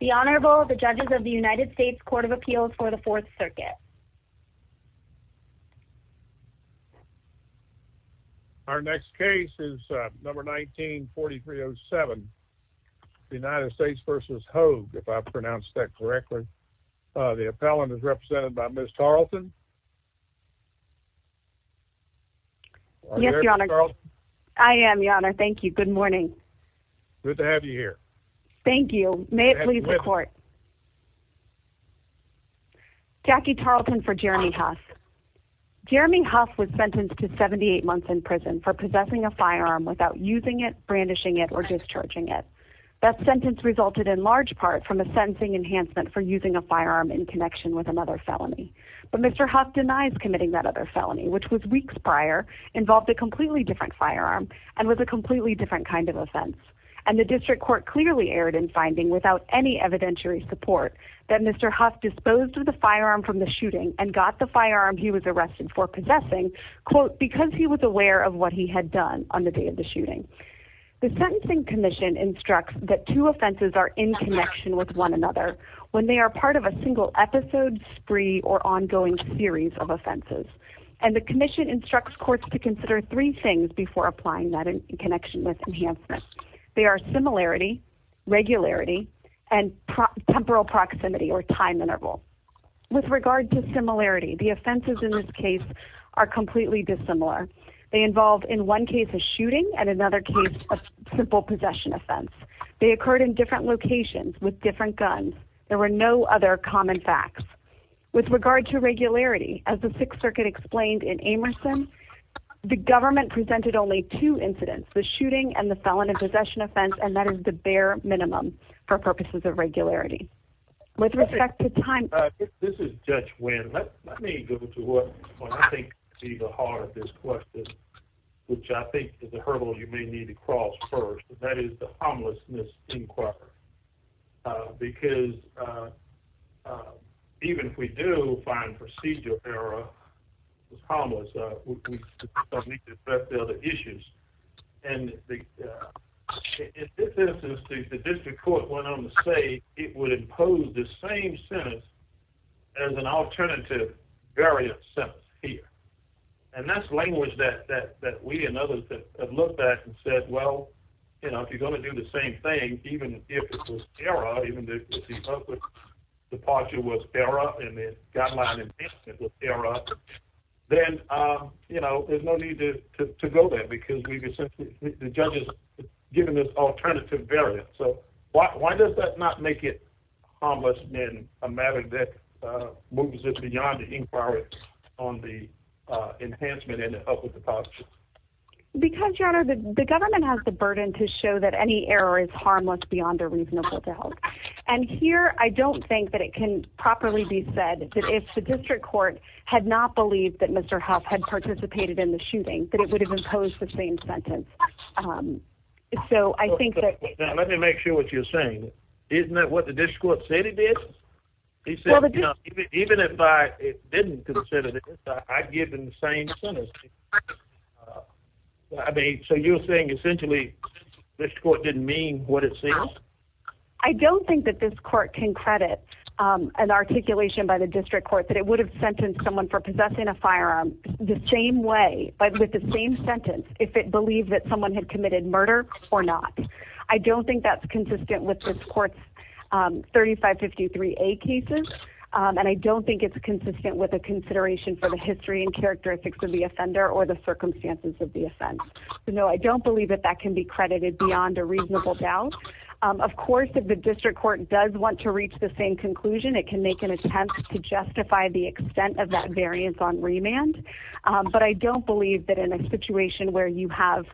The Honorable the judges of the United States Court of Appeals for the Fourth Circuit. Our next case is number 19-4307, United States v. Hough, if I've pronounced that correctly. The appellant is represented by Ms. Tarleton. Yes, Your Honor. I am, Your Honor. Thank you. Good morning. Good to have you here. Thank you. May it please the Court. Jackie Tarleton for Jeremy Hough. Jeremy Hough was sentenced to 78 months in prison for possessing a firearm without using it, brandishing it, or discharging it. That sentence resulted in large part from a sentencing enhancement for using a firearm in connection with another felony. But Mr. Hough denies committing that other felony, which was weeks prior, involved a completely different firearm, and was a completely different kind of offense. And the district court clearly erred in finding, without any evidentiary support, that Mr. Hough disposed of the firearm from the shooting and got the firearm he was arrested for possessing, quote, because he was aware of what he had done on the day of the shooting. The Sentencing Commission instructs that two offenses are in connection with one another when they are part of a single episode, spree, or ongoing series of offenses. And the Commission instructs courts to consider three things before applying that in connection with enhancement. They are similarity, regularity, and temporal proximity, or time interval. With regard to similarity, the offenses in this case are completely dissimilar. They involve, in one case, a shooting, and in another case, a simple possession offense. They occurred in different locations with different guns. There were no other common facts. With regard to regularity, as the Sixth Circuit explained in Amerson, the government presented only two incidents, the shooting and the felony possession offense, and that is the bare minimum for purposes of regularity. This is Judge Wynn. Let me go to what I think is the heart of this question, which I think is a hurdle you may need to cross first, and that is the homelessness inquiry. Because even if we do find procedural error with homelessness, we still need to address the other issues. And in this instance, the district court went on to say it would impose the same sentence as an alternative variant sentence here. And that's language that we and others have looked at and said, well, you know, if you're going to do the same thing, even if it was error, even if the purpose of departure was error, and the guideline enhancement was error, then, you know, there's no need to go there, because the judge has given this alternative variant. So why does that not make it harmless, then, a matter that moves it beyond the inquiry on the enhancement and the help with the possession? Because, Your Honor, the government has the burden to show that any error is harmless beyond a reasonable doubt. And here, I don't think that it can properly be said that if the district court had not believed that Mr. Huff had participated in the shooting, that it would have imposed the same sentence. So I think that... Let me make sure what you're saying. Isn't that what the district court said he did? He said, you know, even if I didn't consider this, I'd give him the same sentence. I mean, so you're saying, essentially, the district court didn't mean what it says? I don't think that this court can credit an articulation by the district court that it would have sentenced someone for possessing a firearm the same way, with the same sentence, if it believed that someone had committed murder or not. I don't think that's consistent with this court's 3553A cases, and I don't think it's consistent with a consideration for the history and characteristics of the offender or the circumstances of the offense. So, no, I don't believe that that can be credited beyond a reasonable doubt. Of course, if the district court does want to reach the same conclusion, it can make an attempt to justify the extent of that variance on remand. But I don't believe that in a situation where you have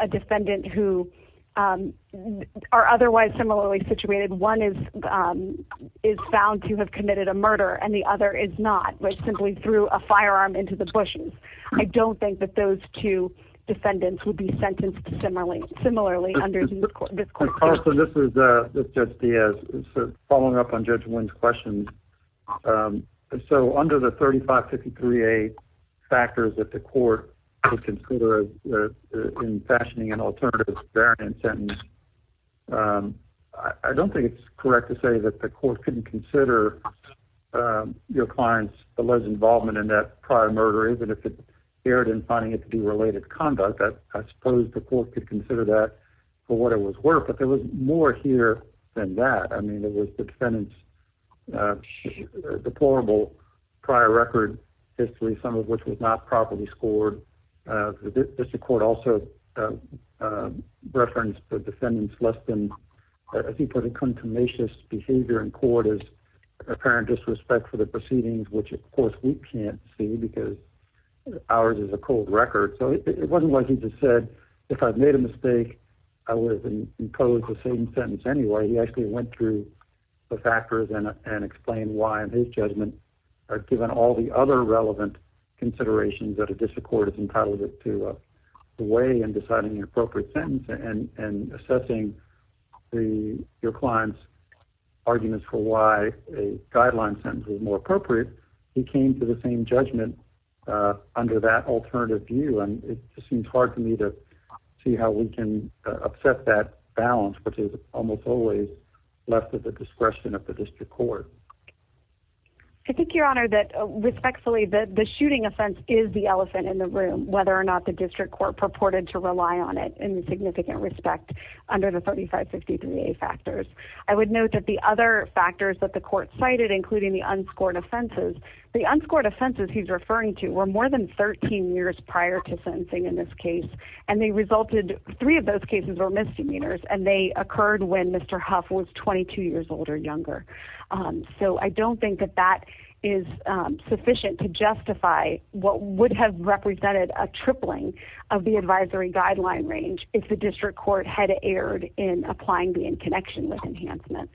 a defendant who are otherwise similarly situated, one is found to have committed a murder and the other is not, but simply threw a firearm into the bushes. I don't think that those two defendants would be sentenced similarly under this court. This is Judge Diaz, following up on Judge Wynn's question. So, under the 3553A factors that the court would consider in fashioning an alternative variance sentence, I don't think it's correct to say that the court couldn't consider your client's alleged involvement in that prior murder, even if it appeared in finding it to be related conduct. I suppose the court could consider that for what it was worth, but there was more here than that. I mean, it was the defendant's deplorable prior record history, some of which was not properly scored. The district court also referenced the defendant's less than, as he put it, contumacious behavior in court as apparent disrespect for the proceedings, which, of course, we can't see because ours is a cold record. So it wasn't like he just said, if I'd made a mistake, I would have been imposed the same sentence anyway. He actually went through the factors and explained why, in his judgment, given all the other relevant considerations that a district court is entitled to weigh in deciding the appropriate sentence and assessing your client's arguments for why a guideline sentence is more appropriate. He came to the same judgment under that alternative view, and it just seems hard to me to see how we can upset that balance, which is almost always left at the discretion of the district court. I think, Your Honor, that respectfully, the shooting offense is the elephant in the room, whether or not the district court purported to rely on it in significant respect under the 3553A factors. I would note that the other factors that the court cited, including the unscored offenses, the unscored offenses he's referring to were more than 13 years prior to sentencing in this case, and they resulted, three of those cases were misdemeanors, and they occurred when Mr. Huff was 22 years old or younger. So I don't think that that is sufficient to justify what would have represented a tripling of the advisory guideline range if the district court had erred in applying the in connection with enhancement.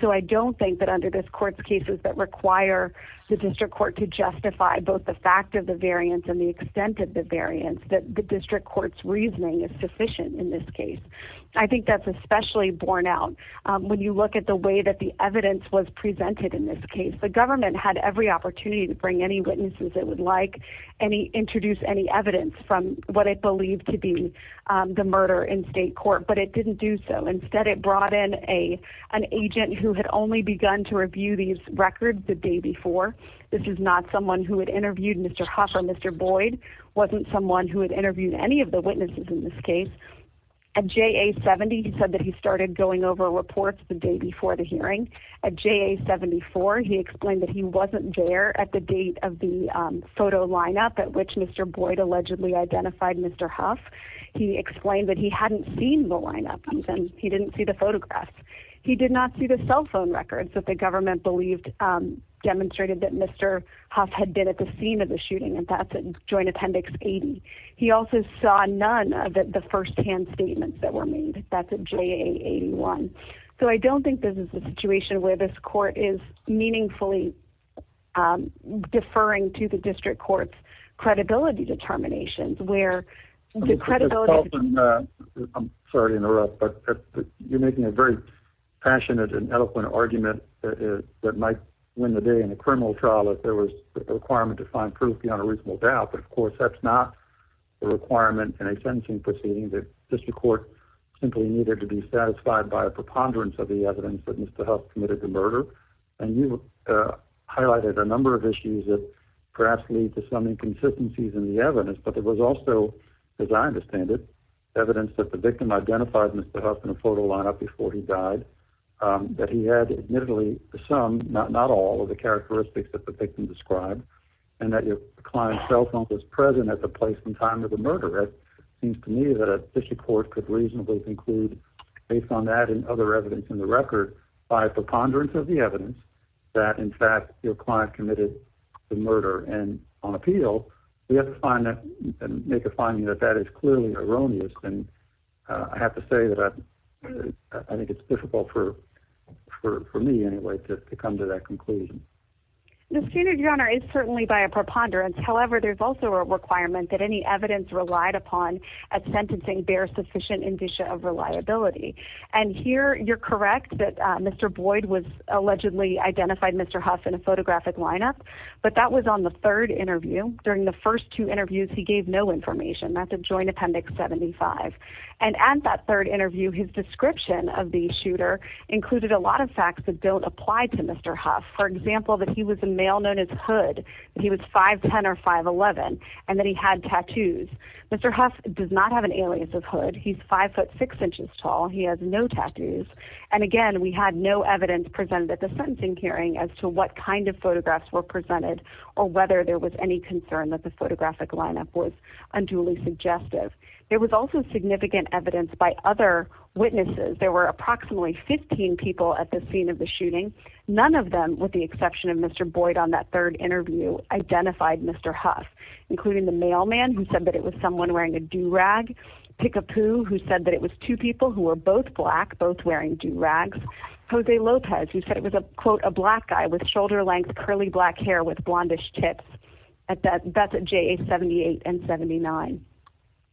So I don't think that under this court's cases that require the district court to justify both the fact of the variance and the extent of the variance that the district court's reasoning is sufficient in this case. I think that's especially borne out when you look at the way that the evidence was presented in this case. The government had every opportunity to bring any witnesses it would like, introduce any evidence from what it believed to be the murder in state court, but it didn't do so. Instead, it brought in an agent who had only begun to review these records the day before. This is not someone who had interviewed Mr. Huff or Mr. Boyd, wasn't someone who had interviewed any of the witnesses in this case. At JA-70, he said that he started going over reports the day before the hearing. At JA-74, he explained that he wasn't there at the date of the photo lineup at which Mr. Boyd allegedly identified Mr. Huff. He explained that he hadn't seen the lineup, and he didn't see the photographs. He did not see the cell phone records that the government demonstrated that Mr. Huff had been at the scene of the shooting. That's at Joint Appendix 80. He also saw none of the firsthand statements that were made. That's at JA-81. I don't think this is a situation where this court is meaningfully deferring to the district court's credibility determinations. I'm sorry to interrupt, but you're making a very passionate and eloquent argument that might win the day in a criminal trial if there was a requirement to find proof beyond a reasonable doubt. Of course, that's not a requirement in a sentencing proceeding. The district court simply needed to be satisfied by a preponderance of the evidence that Mr. Huff committed the murder. You highlighted a number of issues that perhaps lead to some inconsistencies in the evidence. But there was also, as I understand it, evidence that the victim identified Mr. Huff in a photo lineup before he died. That he had admittedly some, not all, of the characteristics that the victim described. And that your client's cell phone was present at the place and time of the murder. It seems to me that a district court could reasonably conclude, based on that and other evidence in the record, by a preponderance of the evidence that, in fact, your client committed the murder. And on appeal, we have to make a finding that that is clearly erroneous. I have to say that I think it's difficult for me, anyway, to come to that conclusion. The standard, Your Honor, is certainly by a preponderance. However, there's also a requirement that any evidence relied upon at sentencing bear sufficient indicia of reliability. And here, you're correct that Mr. Boyd allegedly identified Mr. Huff in a photographic lineup. But that was on the third interview. During the first two interviews, he gave no information. That's at Joint Appendix 75. And at that third interview, his description of the shooter included a lot of facts that don't apply to Mr. Huff. For example, that he was a male known as Hood, that he was 5'10 or 5'11, and that he had tattoos. Mr. Huff does not have an alias of Hood. He's 5'6 inches tall. He has no tattoos. And, again, we had no evidence presented at the sentencing hearing as to what kind of photographs were presented or whether there was any concern that the photographic lineup was unduly suggestive. There was also significant evidence by other witnesses. There were approximately 15 people at the scene of the shooting. None of them, with the exception of Mr. Boyd on that third interview, identified Mr. Huff, including the mailman who said that it was someone wearing a do-rag, Pickapoo, who said that it was two people who were both black, both wearing do-rags, Jose Lopez, who said it was, quote, a black guy with shoulder-length curly black hair with blondish tips. That's at JA 78 and 79.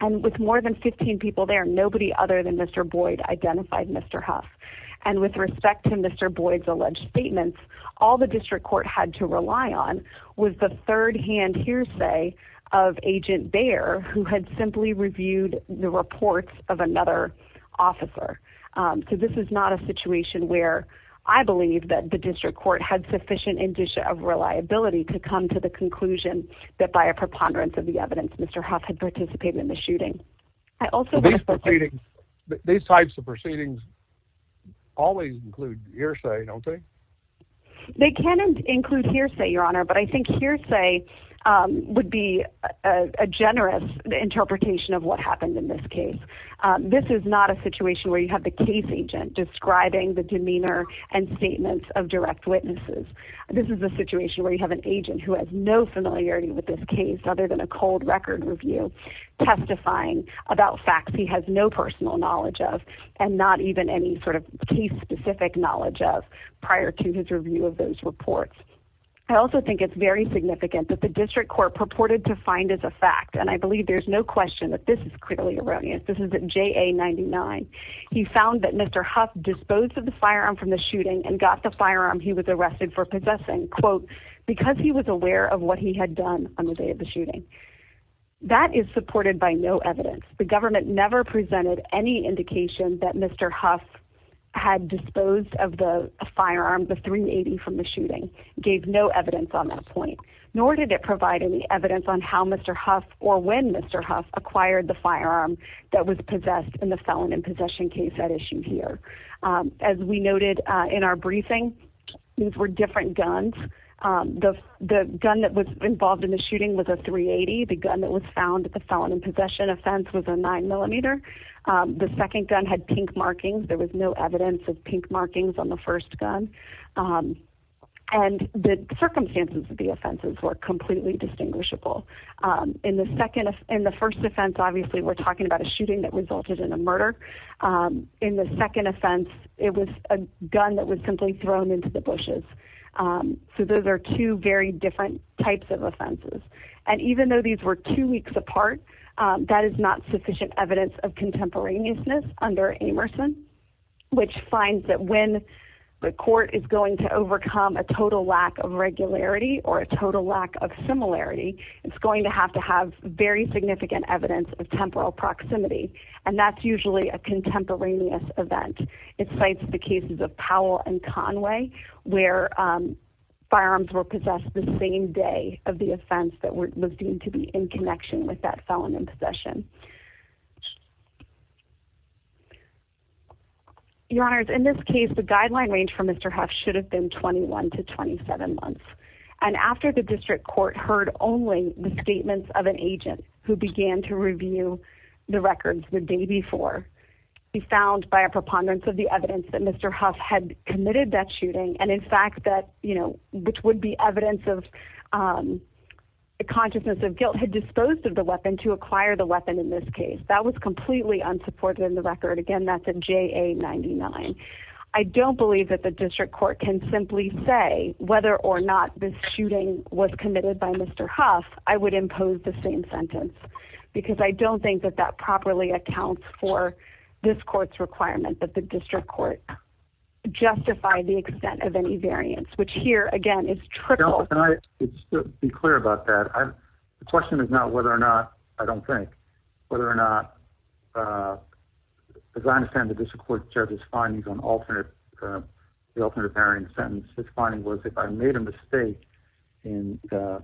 And with more than 15 people there, nobody other than Mr. Boyd identified Mr. Huff. And with respect to Mr. Boyd's alleged statements, all the district court had to rely on was the third-hand hearsay of Agent Baer, who had simply reviewed the reports of another officer. So this is not a situation where I believe that the district court had sufficient indicia of reliability to come to the conclusion that by a preponderance of the evidence Mr. Huff had participated in the shooting. I also think that... These proceedings, these types of proceedings always include hearsay, don't they? They can include hearsay, Your Honor, but I think hearsay would be a generous interpretation of what happened in this case. This is not a situation where you have the case agent describing the demeanor and statements of direct witnesses. This is a situation where you have an agent who has no familiarity with this case other than a cold-record review, testifying about facts he has no personal knowledge of and not even any sort of case-specific knowledge of prior to his review of those reports. I also think it's very significant that the district court purported to find as a fact, and I believe there's no question that this is clearly erroneous. This is at JA99. He found that Mr. Huff disposed of the firearm from the shooting and got the firearm he was arrested for possessing, quote, because he was aware of what he had done on the day of the shooting. That is supported by no evidence. The government never presented any indication that Mr. Huff had disposed of the firearm, the .380, from the shooting, gave no evidence on that point, nor did it provide any evidence on how Mr. Huff or when Mr. Huff acquired the firearm that was possessed in the felon in possession case at issue here. As we noted in our briefing, these were different guns. The gun that was involved in the shooting was a .380. The gun that was found at the felon in possession offense was a 9mm. The second gun had pink markings. There was no evidence of pink markings on the first gun. And the circumstances of the offenses were completely distinguishable. In the first offense, obviously, we're talking about a shooting that resulted in a murder. In the second offense, it was a gun that was simply thrown into the bushes. So those are two very different types of offenses. And even though these were two weeks apart, that is not sufficient evidence of contemporaneousness under Amerson, which finds that when the court is going to overcome a total lack of regularity or a total lack of similarity, it's going to have to have very significant evidence of temporal proximity, and that's usually a contemporaneous event. It cites the cases of Powell and Conway where firearms were possessed the same day of the offense that was deemed to be in connection with that felon in possession. Your Honors, in this case, the guideline range for Mr. Huff should have been 21 to 27 months. And after the district court heard only the statements of an agent who began to review the records the day before, he found by a preponderance of the evidence that Mr. Huff had committed that shooting, and in fact that, you know, which would be evidence of a consciousness of guilt, had disposed of the weapon to acquire the weapon in this case. That was completely unsupported in the record. Again, that's a JA-99. I don't believe that the district court can simply say whether or not this shooting was committed by Mr. Huff. I would impose the same sentence because I don't think that that properly accounts for this court's requirement that the district court justify the extent of any variance, which here, again, is trickle. Can I just be clear about that? The question is now whether or not, I don't think, whether or not, as I understand the district court judge's findings on the alternate variant sentence, his finding was if I made a mistake in the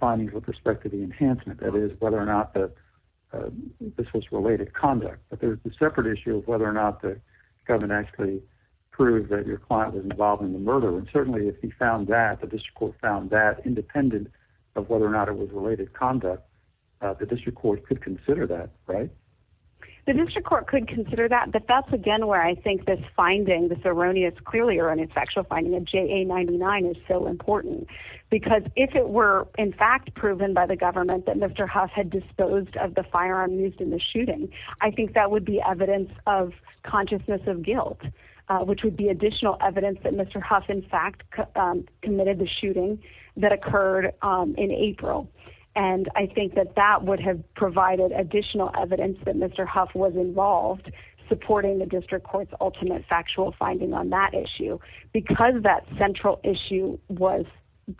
findings with respect to the enhancement, that is, whether or not this was related conduct. But there's a separate issue of whether or not the government actually proved that your client was involved in the murder. And certainly if he found that, the district court found that, independent of whether or not it was related conduct, the district court could consider that, right? The district court could consider that. But that's, again, where I think this finding, this erroneous, clearly erroneous factual finding of JA-99 is so important. Because if it were, in fact, proven by the government that Mr. Huff had disposed of the firearm used in the shooting, I think that would be evidence of consciousness of guilt, which would be additional evidence that Mr. Huff, in fact, committed the shooting that occurred in April. And I think that that would have provided additional evidence that Mr. Huff was involved, supporting the district court's ultimate factual finding on that issue. Because that central issue was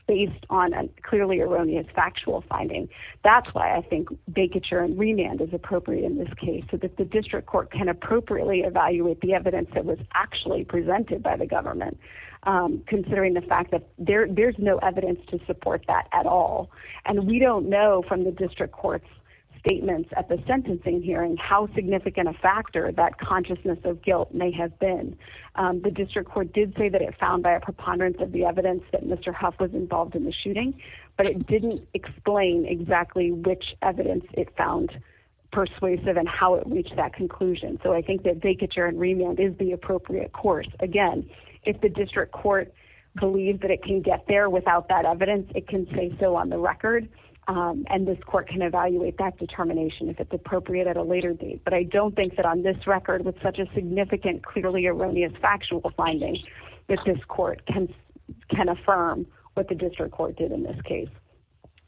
based on a clearly erroneous factual finding, that's why I think vacature and remand is appropriate in this case, so that the district court can appropriately evaluate the evidence that was actually presented by the government, considering the fact that there's no evidence to support that at all. And we don't know from the district court's statements at the sentencing hearing how significant a factor that consciousness of guilt may have been. The district court did say that it found by a preponderance of the evidence that Mr. Huff was involved in the shooting, but it didn't explain exactly which evidence it found persuasive and how it reached that conclusion. So I think that vacature and remand is the appropriate course. Again, if the district court believes that it can get there without that evidence, it can say so on the record, and this court can evaluate that determination if it's appropriate at a later date. But I don't think that on this record, with such a significant, clearly erroneous factual finding, that this court can affirm what the district court did in this case.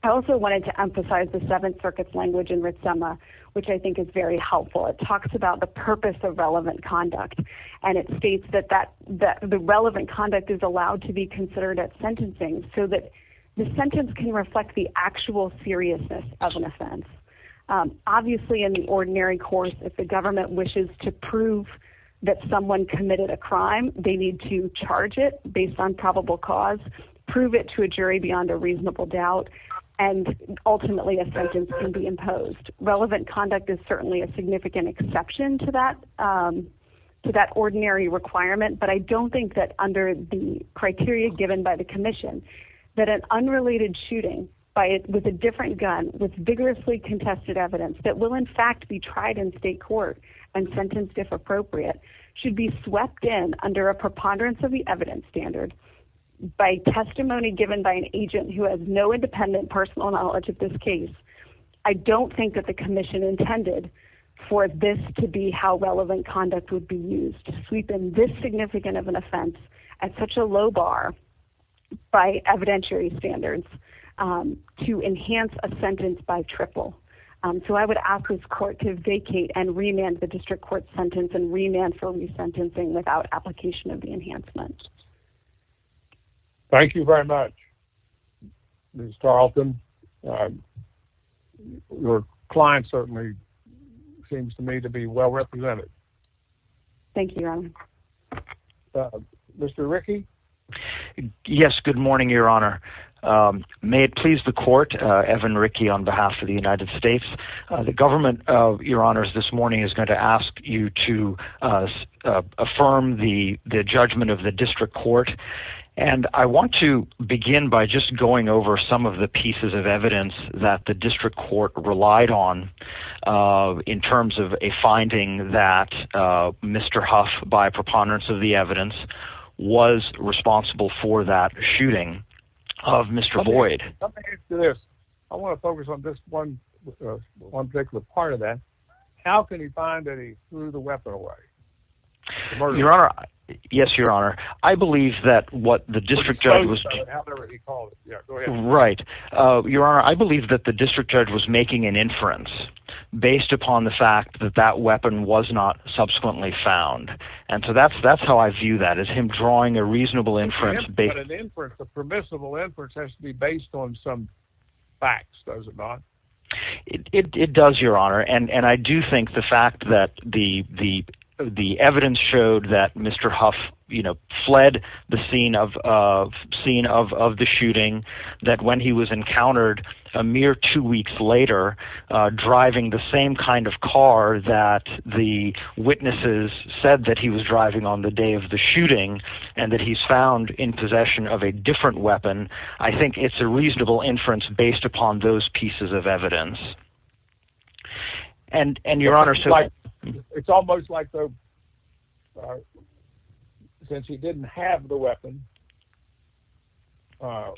I also wanted to emphasize the Seventh Circuit's language in Ritsema, which I think is very helpful. It talks about the purpose of relevant conduct, and it states that the relevant conduct is allowed to be considered at sentencing so that the sentence can reflect the actual seriousness of an offense. Obviously, in the ordinary course, if the government wishes to prove that someone committed a crime, they need to charge it based on probable cause, prove it to a jury beyond a reasonable doubt, and ultimately a sentence can be imposed. Relevant conduct is certainly a significant exception to that ordinary requirement, but I don't think that under the criteria given by the commission that an unrelated shooting with a different gun, with vigorously contested evidence that will, in fact, be tried in state court and sentenced if appropriate, should be swept in under a preponderance of the evidence standard by testimony given by an agent who has no independent personal knowledge of this case. I don't think that the commission intended for this to be how relevant conduct would be used, to sweep in this significant of an offense at such a low bar by evidentiary standards to enhance a sentence by triple. So I would ask this court to vacate and remand the district court sentence and remand for resentencing without application of the enhancement. Thank you very much, Ms. Tarleton. Your client certainly seems to me to be well represented. Thank you, Your Honor. Mr. Rickey? Yes, good morning, Your Honor. May it please the court, Evan Rickey on behalf of the United States. The government, Your Honors, this morning is going to ask you to affirm the judgment of the district court. And I want to begin by just going over some of the pieces of evidence that the district court relied on in terms of a finding that Mr. Huff, by preponderance of the evidence, was responsible for that shooting of Mr. Boyd. I want to focus on this one particular part of that. How can he find that he threw the weapon away? Your Honor, yes, Your Honor. I believe that what the district judge was... Go ahead. Right. Your Honor, I believe that the district judge was making an inference based upon the fact that that weapon was not subsequently found. And so that's how I view that, is him drawing a reasonable inference... But an inference, a permissible inference, has to be based on some facts, does it not? It does, Your Honor. And I do think the fact that the evidence showed that Mr. Huff, you know, fled the scene of the shooting, that when he was encountered a mere two weeks later driving the same kind of car that the witnesses said that he was driving on the day of the shooting and that he's found in possession of a different weapon, I think it's a reasonable inference based upon those pieces of evidence. And, Your Honor, so... It's almost like, since he didn't have the weapon, that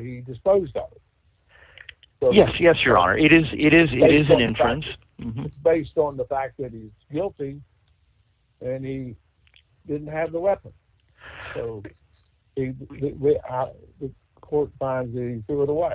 he disposed of it. Yes, yes, Your Honor. It is an inference. It's based on the fact that he's guilty and he didn't have the weapon. So the court finds that he threw it away.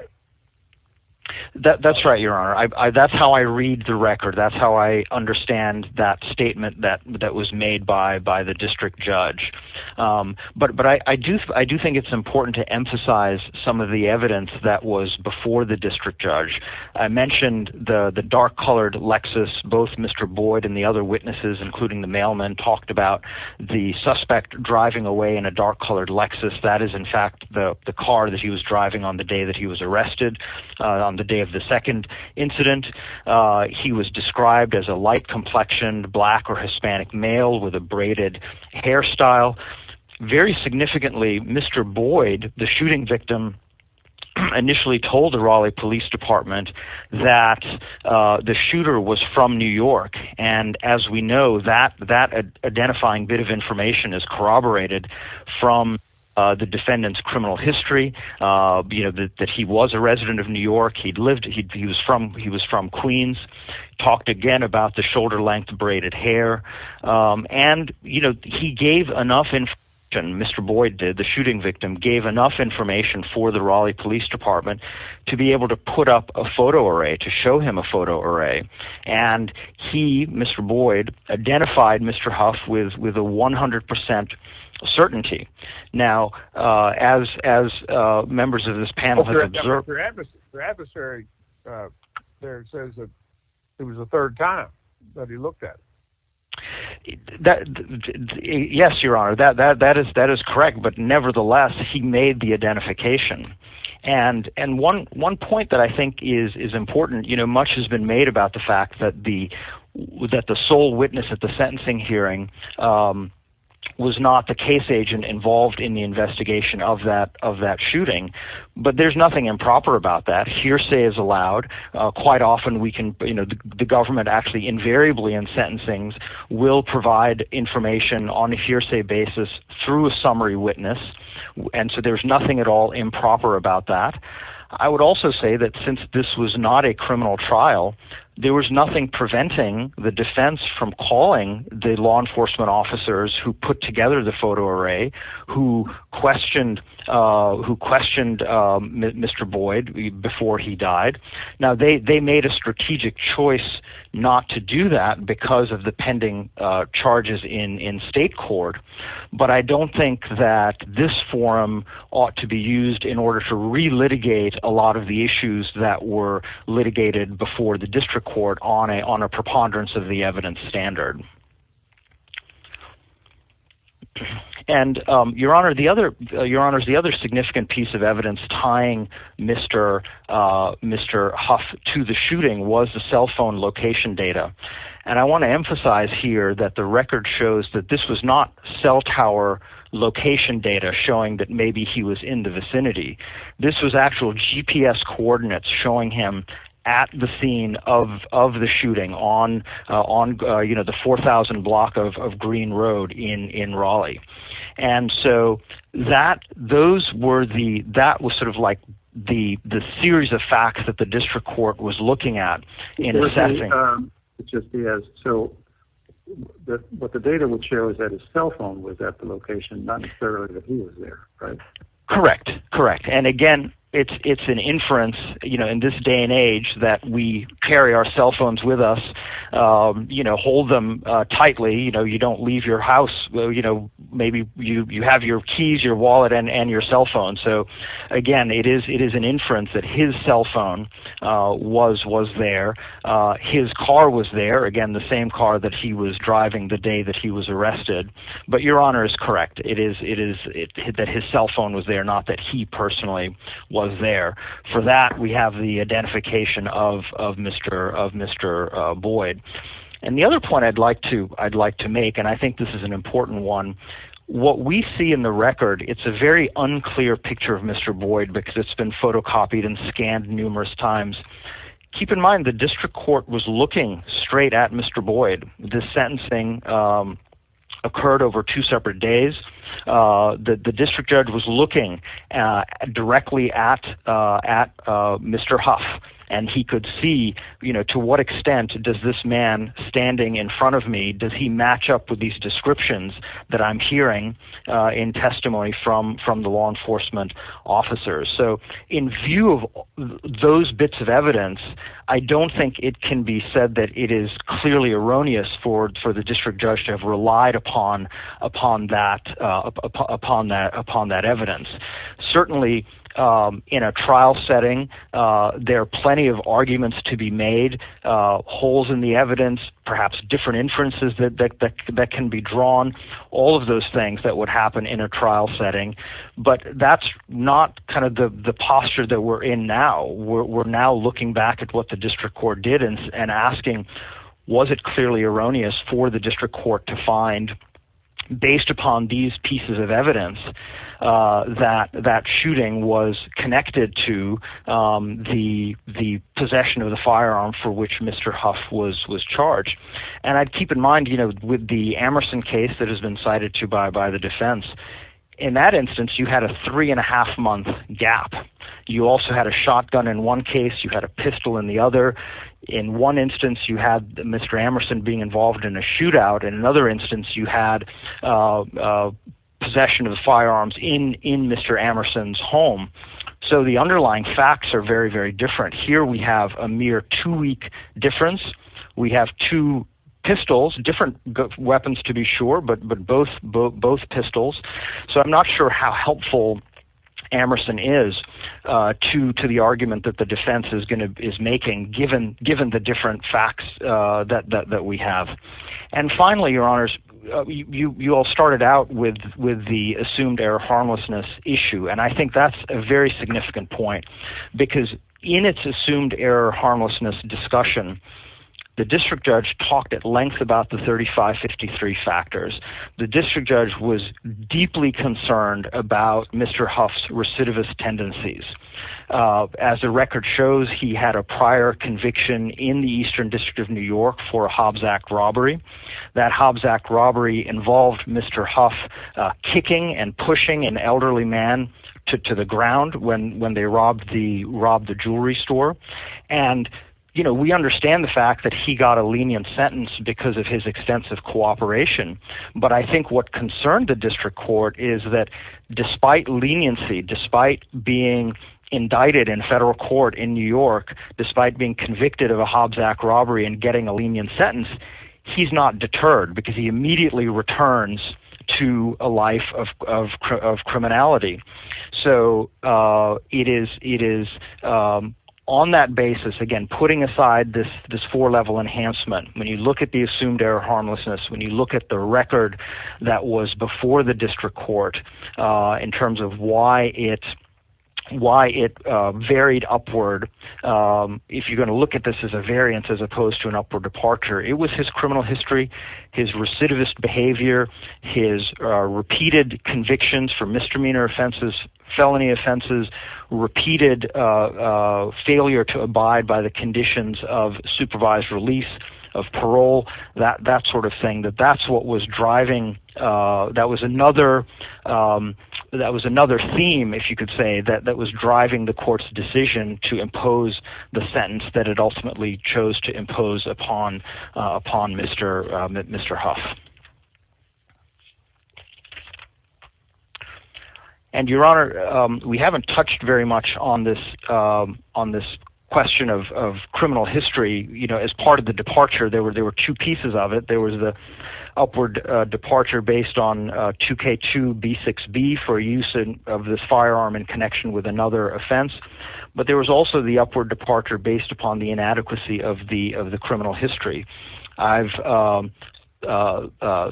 That's right, Your Honor. That's how I read the record. That's how I understand that statement that was made by the district judge. But I do think it's important to emphasize some of the evidence that was before the district judge. I mentioned the dark-colored Lexus. Both Mr. Boyd and the other witnesses, including the mailman, talked about the suspect driving away in a dark-colored Lexus. That is, in fact, the car that he was driving on the day that he was arrested, on the day of the second incident. He was described as a light-complexioned black or Hispanic male with a braided hairstyle. Very significantly, Mr. Boyd, the shooting victim, initially told the Raleigh Police Department that the shooter was from New York. As we know, that identifying bit of information is corroborated from the defendant's criminal history, that he was a resident of New York, he was from Queens, talked again about the shoulder-length braided hair. And he gave enough information, Mr. Boyd did, the shooting victim, gave enough information for the Raleigh Police Department to be able to put up a photo array, to show him a photo array. And he, Mr. Boyd, identified Mr. Huff with 100% certainty. Now, as members of this panel have observed... The adversary there says that it was the third time that he looked at it. Yes, Your Honor, that is correct. But nevertheless, he made the identification. And one point that I think is important, you know, much has been made about the fact that the sole witness at the sentencing hearing was not the case agent involved in the investigation of that shooting. But there's nothing improper about that. Hearsay is allowed. Quite often we can, you know, the government actually invariably in sentencing will provide information on a hearsay basis through a summary witness. And so there's nothing at all improper about that. I would also say that since this was not a criminal trial, there was nothing preventing the defense from calling the law enforcement officers who put together the photo array, who questioned Mr. Boyd before he died. Now, they made a strategic choice not to do that because of the pending charges in state court. But I don't think that this forum ought to be used in order to re-litigate a lot of the issues that were litigated before the district court on a preponderance of the evidence standard. And, Your Honor, the other significant piece of evidence tying Mr. Huff to the shooting was the cell phone location data. And I want to emphasize here that the record shows that this was not cell tower location data showing that maybe he was in the vicinity. This was actual GPS coordinates showing him at the scene of the shooting on the 4,000 block of Green Road in Raleigh. And so that was sort of like the series of facts that the district court was looking at. So what the data would show is that his cell phone was at the location, not necessarily that he was there, right? Correct, correct. And, again, it's an inference in this day and age that we carry our cell phones with us, hold them tightly, you don't leave your house, maybe you have your keys, your wallet, and your cell phone. So, again, it is an inference that his cell phone was there. His car was there, again, the same car that he was driving the day that he was arrested. But Your Honor is correct. It is that his cell phone was there, not that he personally was there. For that, we have the identification of Mr. Boyd. And the other point I'd like to make, and I think this is an important one, what we see in the record, it's a very unclear picture of Mr. Boyd because it's been photocopied and scanned numerous times. Keep in mind the district court was looking straight at Mr. Boyd. This sentencing occurred over two separate days. The district judge was looking directly at Mr. Huff, and he could see to what extent does this man standing in front of me, does he match up with these descriptions that I'm hearing in testimony from the law enforcement officers. So in view of those bits of evidence, I don't think it can be said that it is clearly erroneous for the district judge to have relied upon that evidence. Certainly in a trial setting, there are plenty of arguments to be made, holes in the evidence, perhaps different inferences that can be drawn, all of those things that would happen in a trial setting. But that's not kind of the posture that we're in now. We're now looking back at what the district court did and asking, was it clearly erroneous for the district court to find, based upon these pieces of evidence, that that shooting was connected to the possession of the firearm for which Mr. Huff was charged. And I'd keep in mind with the Amerson case that has been cited by the defense, in that instance, you had a three-and-a-half-month gap. You also had a shotgun in one case, you had a pistol in the other. In one instance, you had Mr. Amerson being involved in a shootout. In another instance, you had possession of the firearms in Mr. Amerson's home. So the underlying facts are very, very different. Here we have a mere two-week difference. We have two pistols, different weapons to be sure, but both pistols. So I'm not sure how helpful Amerson is to the argument that the defense is making, given the different facts that we have. And finally, Your Honors, you all started out with the assumed-error-harmlessness issue. And I think that's a very significant point, because in its assumed-error-harmlessness discussion, the district judge talked at length about the 3553 factors. The district judge was deeply concerned about Mr. Huff's recidivist tendencies. As the record shows, he had a prior conviction in the Eastern District of New York for a Hobbs Act robbery. That Hobbs Act robbery involved Mr. Huff kicking and pushing an elderly man to the ground when they robbed the jewelry store. And we understand the fact that he got a lenient sentence because of his extensive cooperation. But I think what concerned the district court is that despite leniency, despite being indicted in federal court in New York, despite being convicted of a Hobbs Act robbery and getting a lenient sentence, he's not deterred, because he immediately returns to a life of criminality. So it is on that basis, again, putting aside this four-level enhancement. When you look at the assumed-error-harmlessness, when you look at the record that was before the district court in terms of why it varied upward, if you're going to look at this as a variance as opposed to an upward departure, it was his criminal history, his recidivist behavior, his repeated convictions for misdemeanor offenses, felony offenses, repeated failure to abide by the conditions of supervised release of parole, that sort of thing. That was another theme, if you could say, that was driving the court's decision to impose the sentence that it ultimately chose to impose upon Mr. Huff. And, Your Honor, we haven't touched very much on this question of criminal history. As part of the departure, there were two pieces of it. There was the upward departure based on 2K2B6B for use of this firearm in connection with another offense. But there was also the upward departure based upon the inadequacy of the criminal history. I've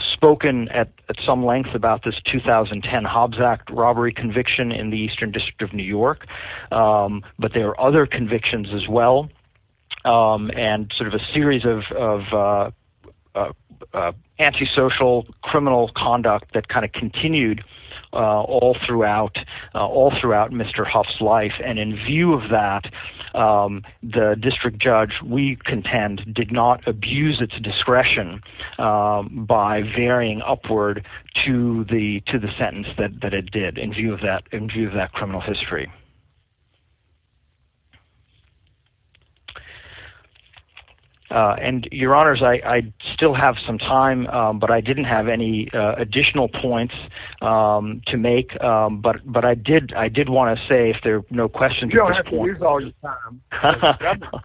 spoken at some length about this 2010 Hobbs Act robbery conviction in the Eastern District of New York. But there are other convictions as well, and sort of a series of antisocial criminal conduct that kind of continued all throughout Mr. Huff's life and in view of that, the district judge, we contend, did not abuse its discretion by varying upward to the sentence that it did in view of that criminal history. And, Your Honors, I still have some time, but I didn't have any additional points to make. But I did want to say, if there are no questions at this point. You don't have to use all your time, Mr. Governor.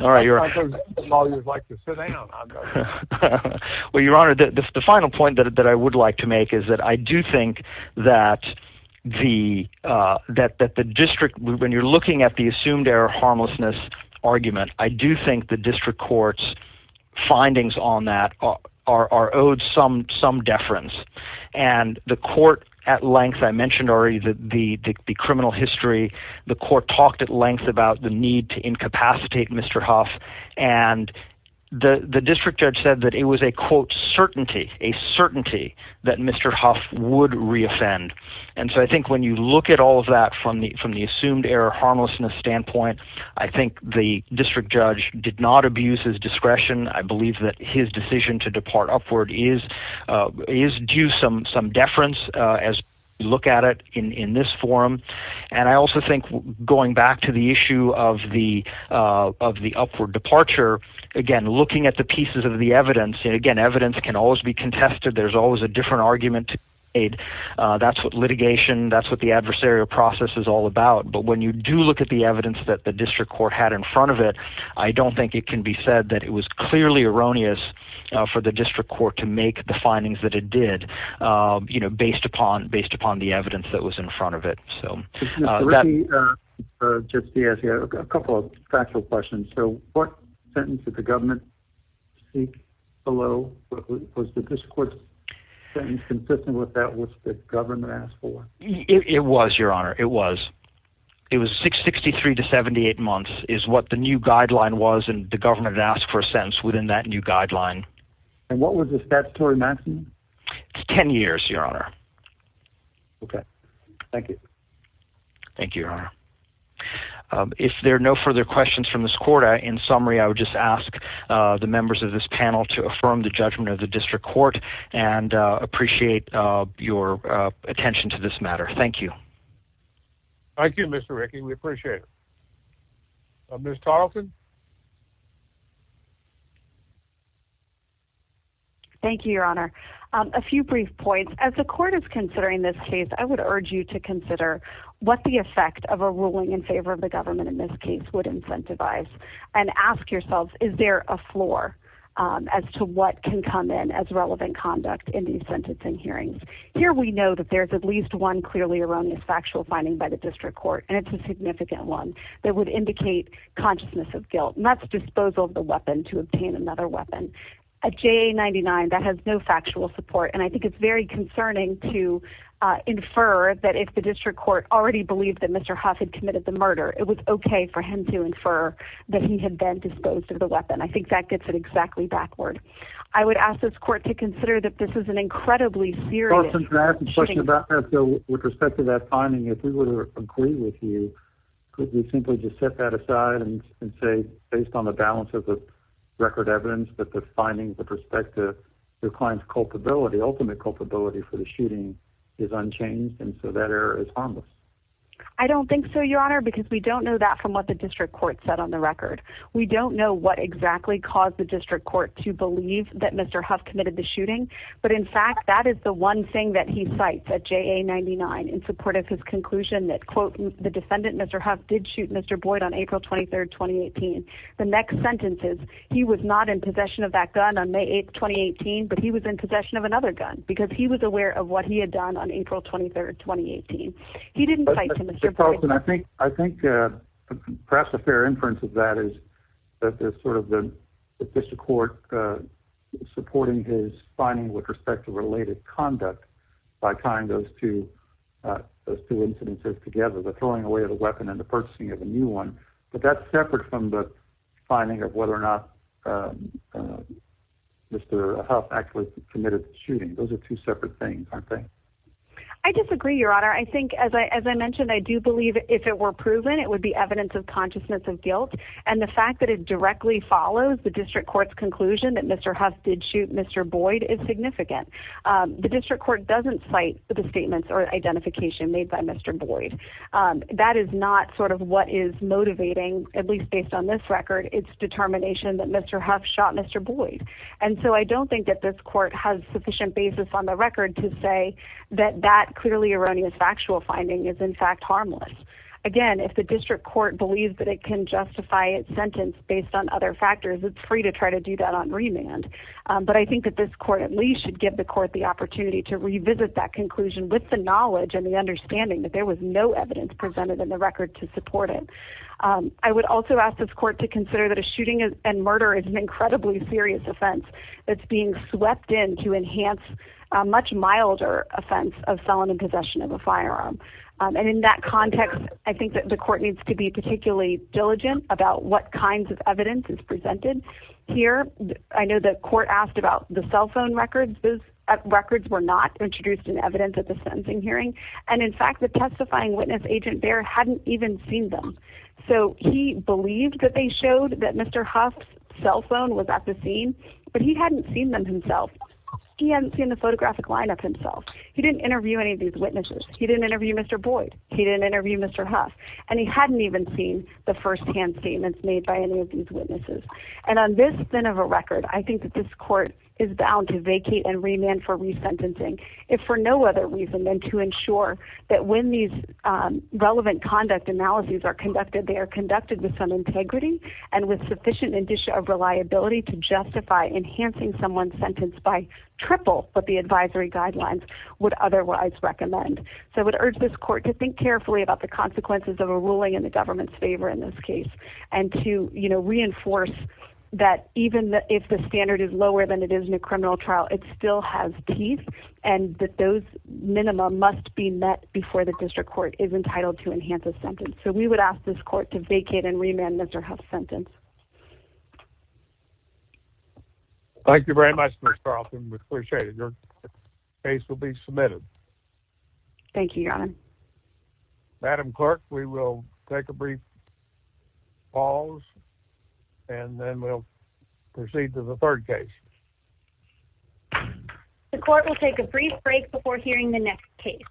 All right, Your Honor. Some lawyers like to sit in on that, Governor. Well, Your Honor, the final point that I would like to make is that I do think that the district, when you're looking at the assumed error harmlessness argument, I do think the district court's findings on that are owed some deference. And the court at length, I mentioned already the criminal history. The court talked at length about the need to incapacitate Mr. Huff. And the district judge said that it was a, quote, certainty, a certainty that Mr. Huff would reoffend. And so I think when you look at all of that from the assumed error harmlessness standpoint, I think the district judge did not abuse his discretion. I believe that his decision to depart upward is due some deference as you look at it in this forum. And I also think going back to the issue of the upward departure, again, looking at the pieces of the evidence, and again, evidence can always be contested. There's always a different argument to aid. That's what litigation, that's what the adversarial process is all about. But when you do look at the evidence that the district court had in front of it, I don't think it can be said that it was clearly erroneous for the district court to make the findings that it did, you know, based upon based upon the evidence that was in front of it. So let me just ask you a couple of factual questions. So what sentence did the government seek below? Was the district court's sentence consistent with that which the government asked for? It was, Your Honor. It was. It was 663 to 78 months is what the new guideline was. And the government asked for a sentence within that new guideline. And what was the statutory maximum? It's 10 years, Your Honor. OK, thank you. Thank you, Your Honor. If there are no further questions from this quarter in summary, I would just ask the members of this panel to affirm the judgment of the district court and appreciate your attention to this matter. Thank you. Thank you, Mr. Rickey. We appreciate it. Ms. Tarleton? Thank you, Your Honor. A few brief points. As the court is considering this case, I would urge you to consider what the effect of a ruling in favor of the government in this case would incentivize and ask yourselves, is there a floor as to what can come in as relevant conduct in these sentencing hearings? Here we know that there's at least one clearly erroneous factual finding by the district court, and it's a significant one that would indicate consciousness of guilt, and that's disposal of the weapon to obtain another weapon. A JA-99, that has no factual support. And I think it's very concerning to infer that if the district court already believed that Mr. Huff had committed the murder, it was OK for him to infer that he had been disposed of the weapon. I think that gets it exactly backward. I would ask this court to consider that this is an incredibly serious shooting. With respect to that finding, if we were to agree with you, could we simply just set that aside and say, based on the balance of the record evidence, that the findings with respect to your client's culpability, ultimate culpability for the shooting, is unchanged, and so that error is harmless? I don't think so, Your Honor, because we don't know that from what the district court said on the record. We don't know what exactly caused the district court to believe that Mr. Huff committed the shooting, but, in fact, that is the one thing that he cites at JA-99 in support of his conclusion that, quote, the defendant, Mr. Huff, did shoot Mr. Boyd on April 23, 2018. The next sentence is, he was not in possession of that gun on May 8, 2018, but he was in possession of another gun because he was aware of what he had done on April 23, 2018. He didn't cite Mr. Boyd. I think perhaps a fair inference of that is that there's sort of the district court supporting his finding with respect to related conduct by tying those two incidences together, the throwing away of the weapon and the purchasing of a new one, but that's separate from the finding of whether or not Mr. Huff actually committed the shooting. Those are two separate things, aren't they? I disagree, Your Honor. I think, as I mentioned, I do believe if it were proven it would be evidence of consciousness of guilt, and the fact that it directly follows the district court's conclusion that Mr. Huff did shoot Mr. Boyd is significant. The district court doesn't cite the statements or identification made by Mr. Boyd. That is not sort of what is motivating, at least based on this record, its determination that Mr. Huff shot Mr. Boyd, and so I don't think that this court has sufficient basis on the record to say that that clearly erroneous factual finding is in fact harmless. Again, if the district court believes that it can justify its sentence based on other factors, it's free to try to do that on remand, but I think that this court at least should give the court the opportunity to revisit that conclusion with the knowledge and the understanding that there was no evidence presented in the record to support it. I would also ask this court to consider that a shooting and murder is an incredibly serious offense that's being swept in to enhance a much milder offense of selling and possession of a firearm, and in that context, I think that the court needs to be particularly diligent about what kinds of evidence is presented. Here, I know the court asked about the cell phone records. Those records were not introduced in evidence at the sentencing hearing, and in fact, the testifying witness agent there hadn't even seen them, so he believed that they showed that Mr. Huff's cell phone was at the scene, but he hadn't seen them himself. He hadn't seen the photographic line-up himself. He didn't interview any of these witnesses. He didn't interview Mr. Boyd. He didn't interview Mr. Huff, and he hadn't even seen the first-hand statements made by any of these witnesses, and on this spin of a record, I think that this court is bound to vacate and remand for resentencing if for no other reason than to ensure that when these relevant conduct analyses are conducted, they are conducted with some integrity and with sufficient indicia of reliability to justify enhancing someone's sentence by triple what the advisory guidelines would otherwise recommend. So I would urge this court to think carefully about the consequences of a ruling in the government's favor in this case and to reinforce that even if the standard is lower than it is in a criminal trial, it still has teeth and that those minimum must be met before the district court is entitled to enhance a sentence. So we would ask this court to vacate and remand Mr. Huff's sentence. Thank you very much, Ms. Carlson. We appreciate it. Thank you, Your Honor. Madam Clerk, we will take a brief pause and then we'll proceed to the third case. The court will take a brief break before hearing the next case.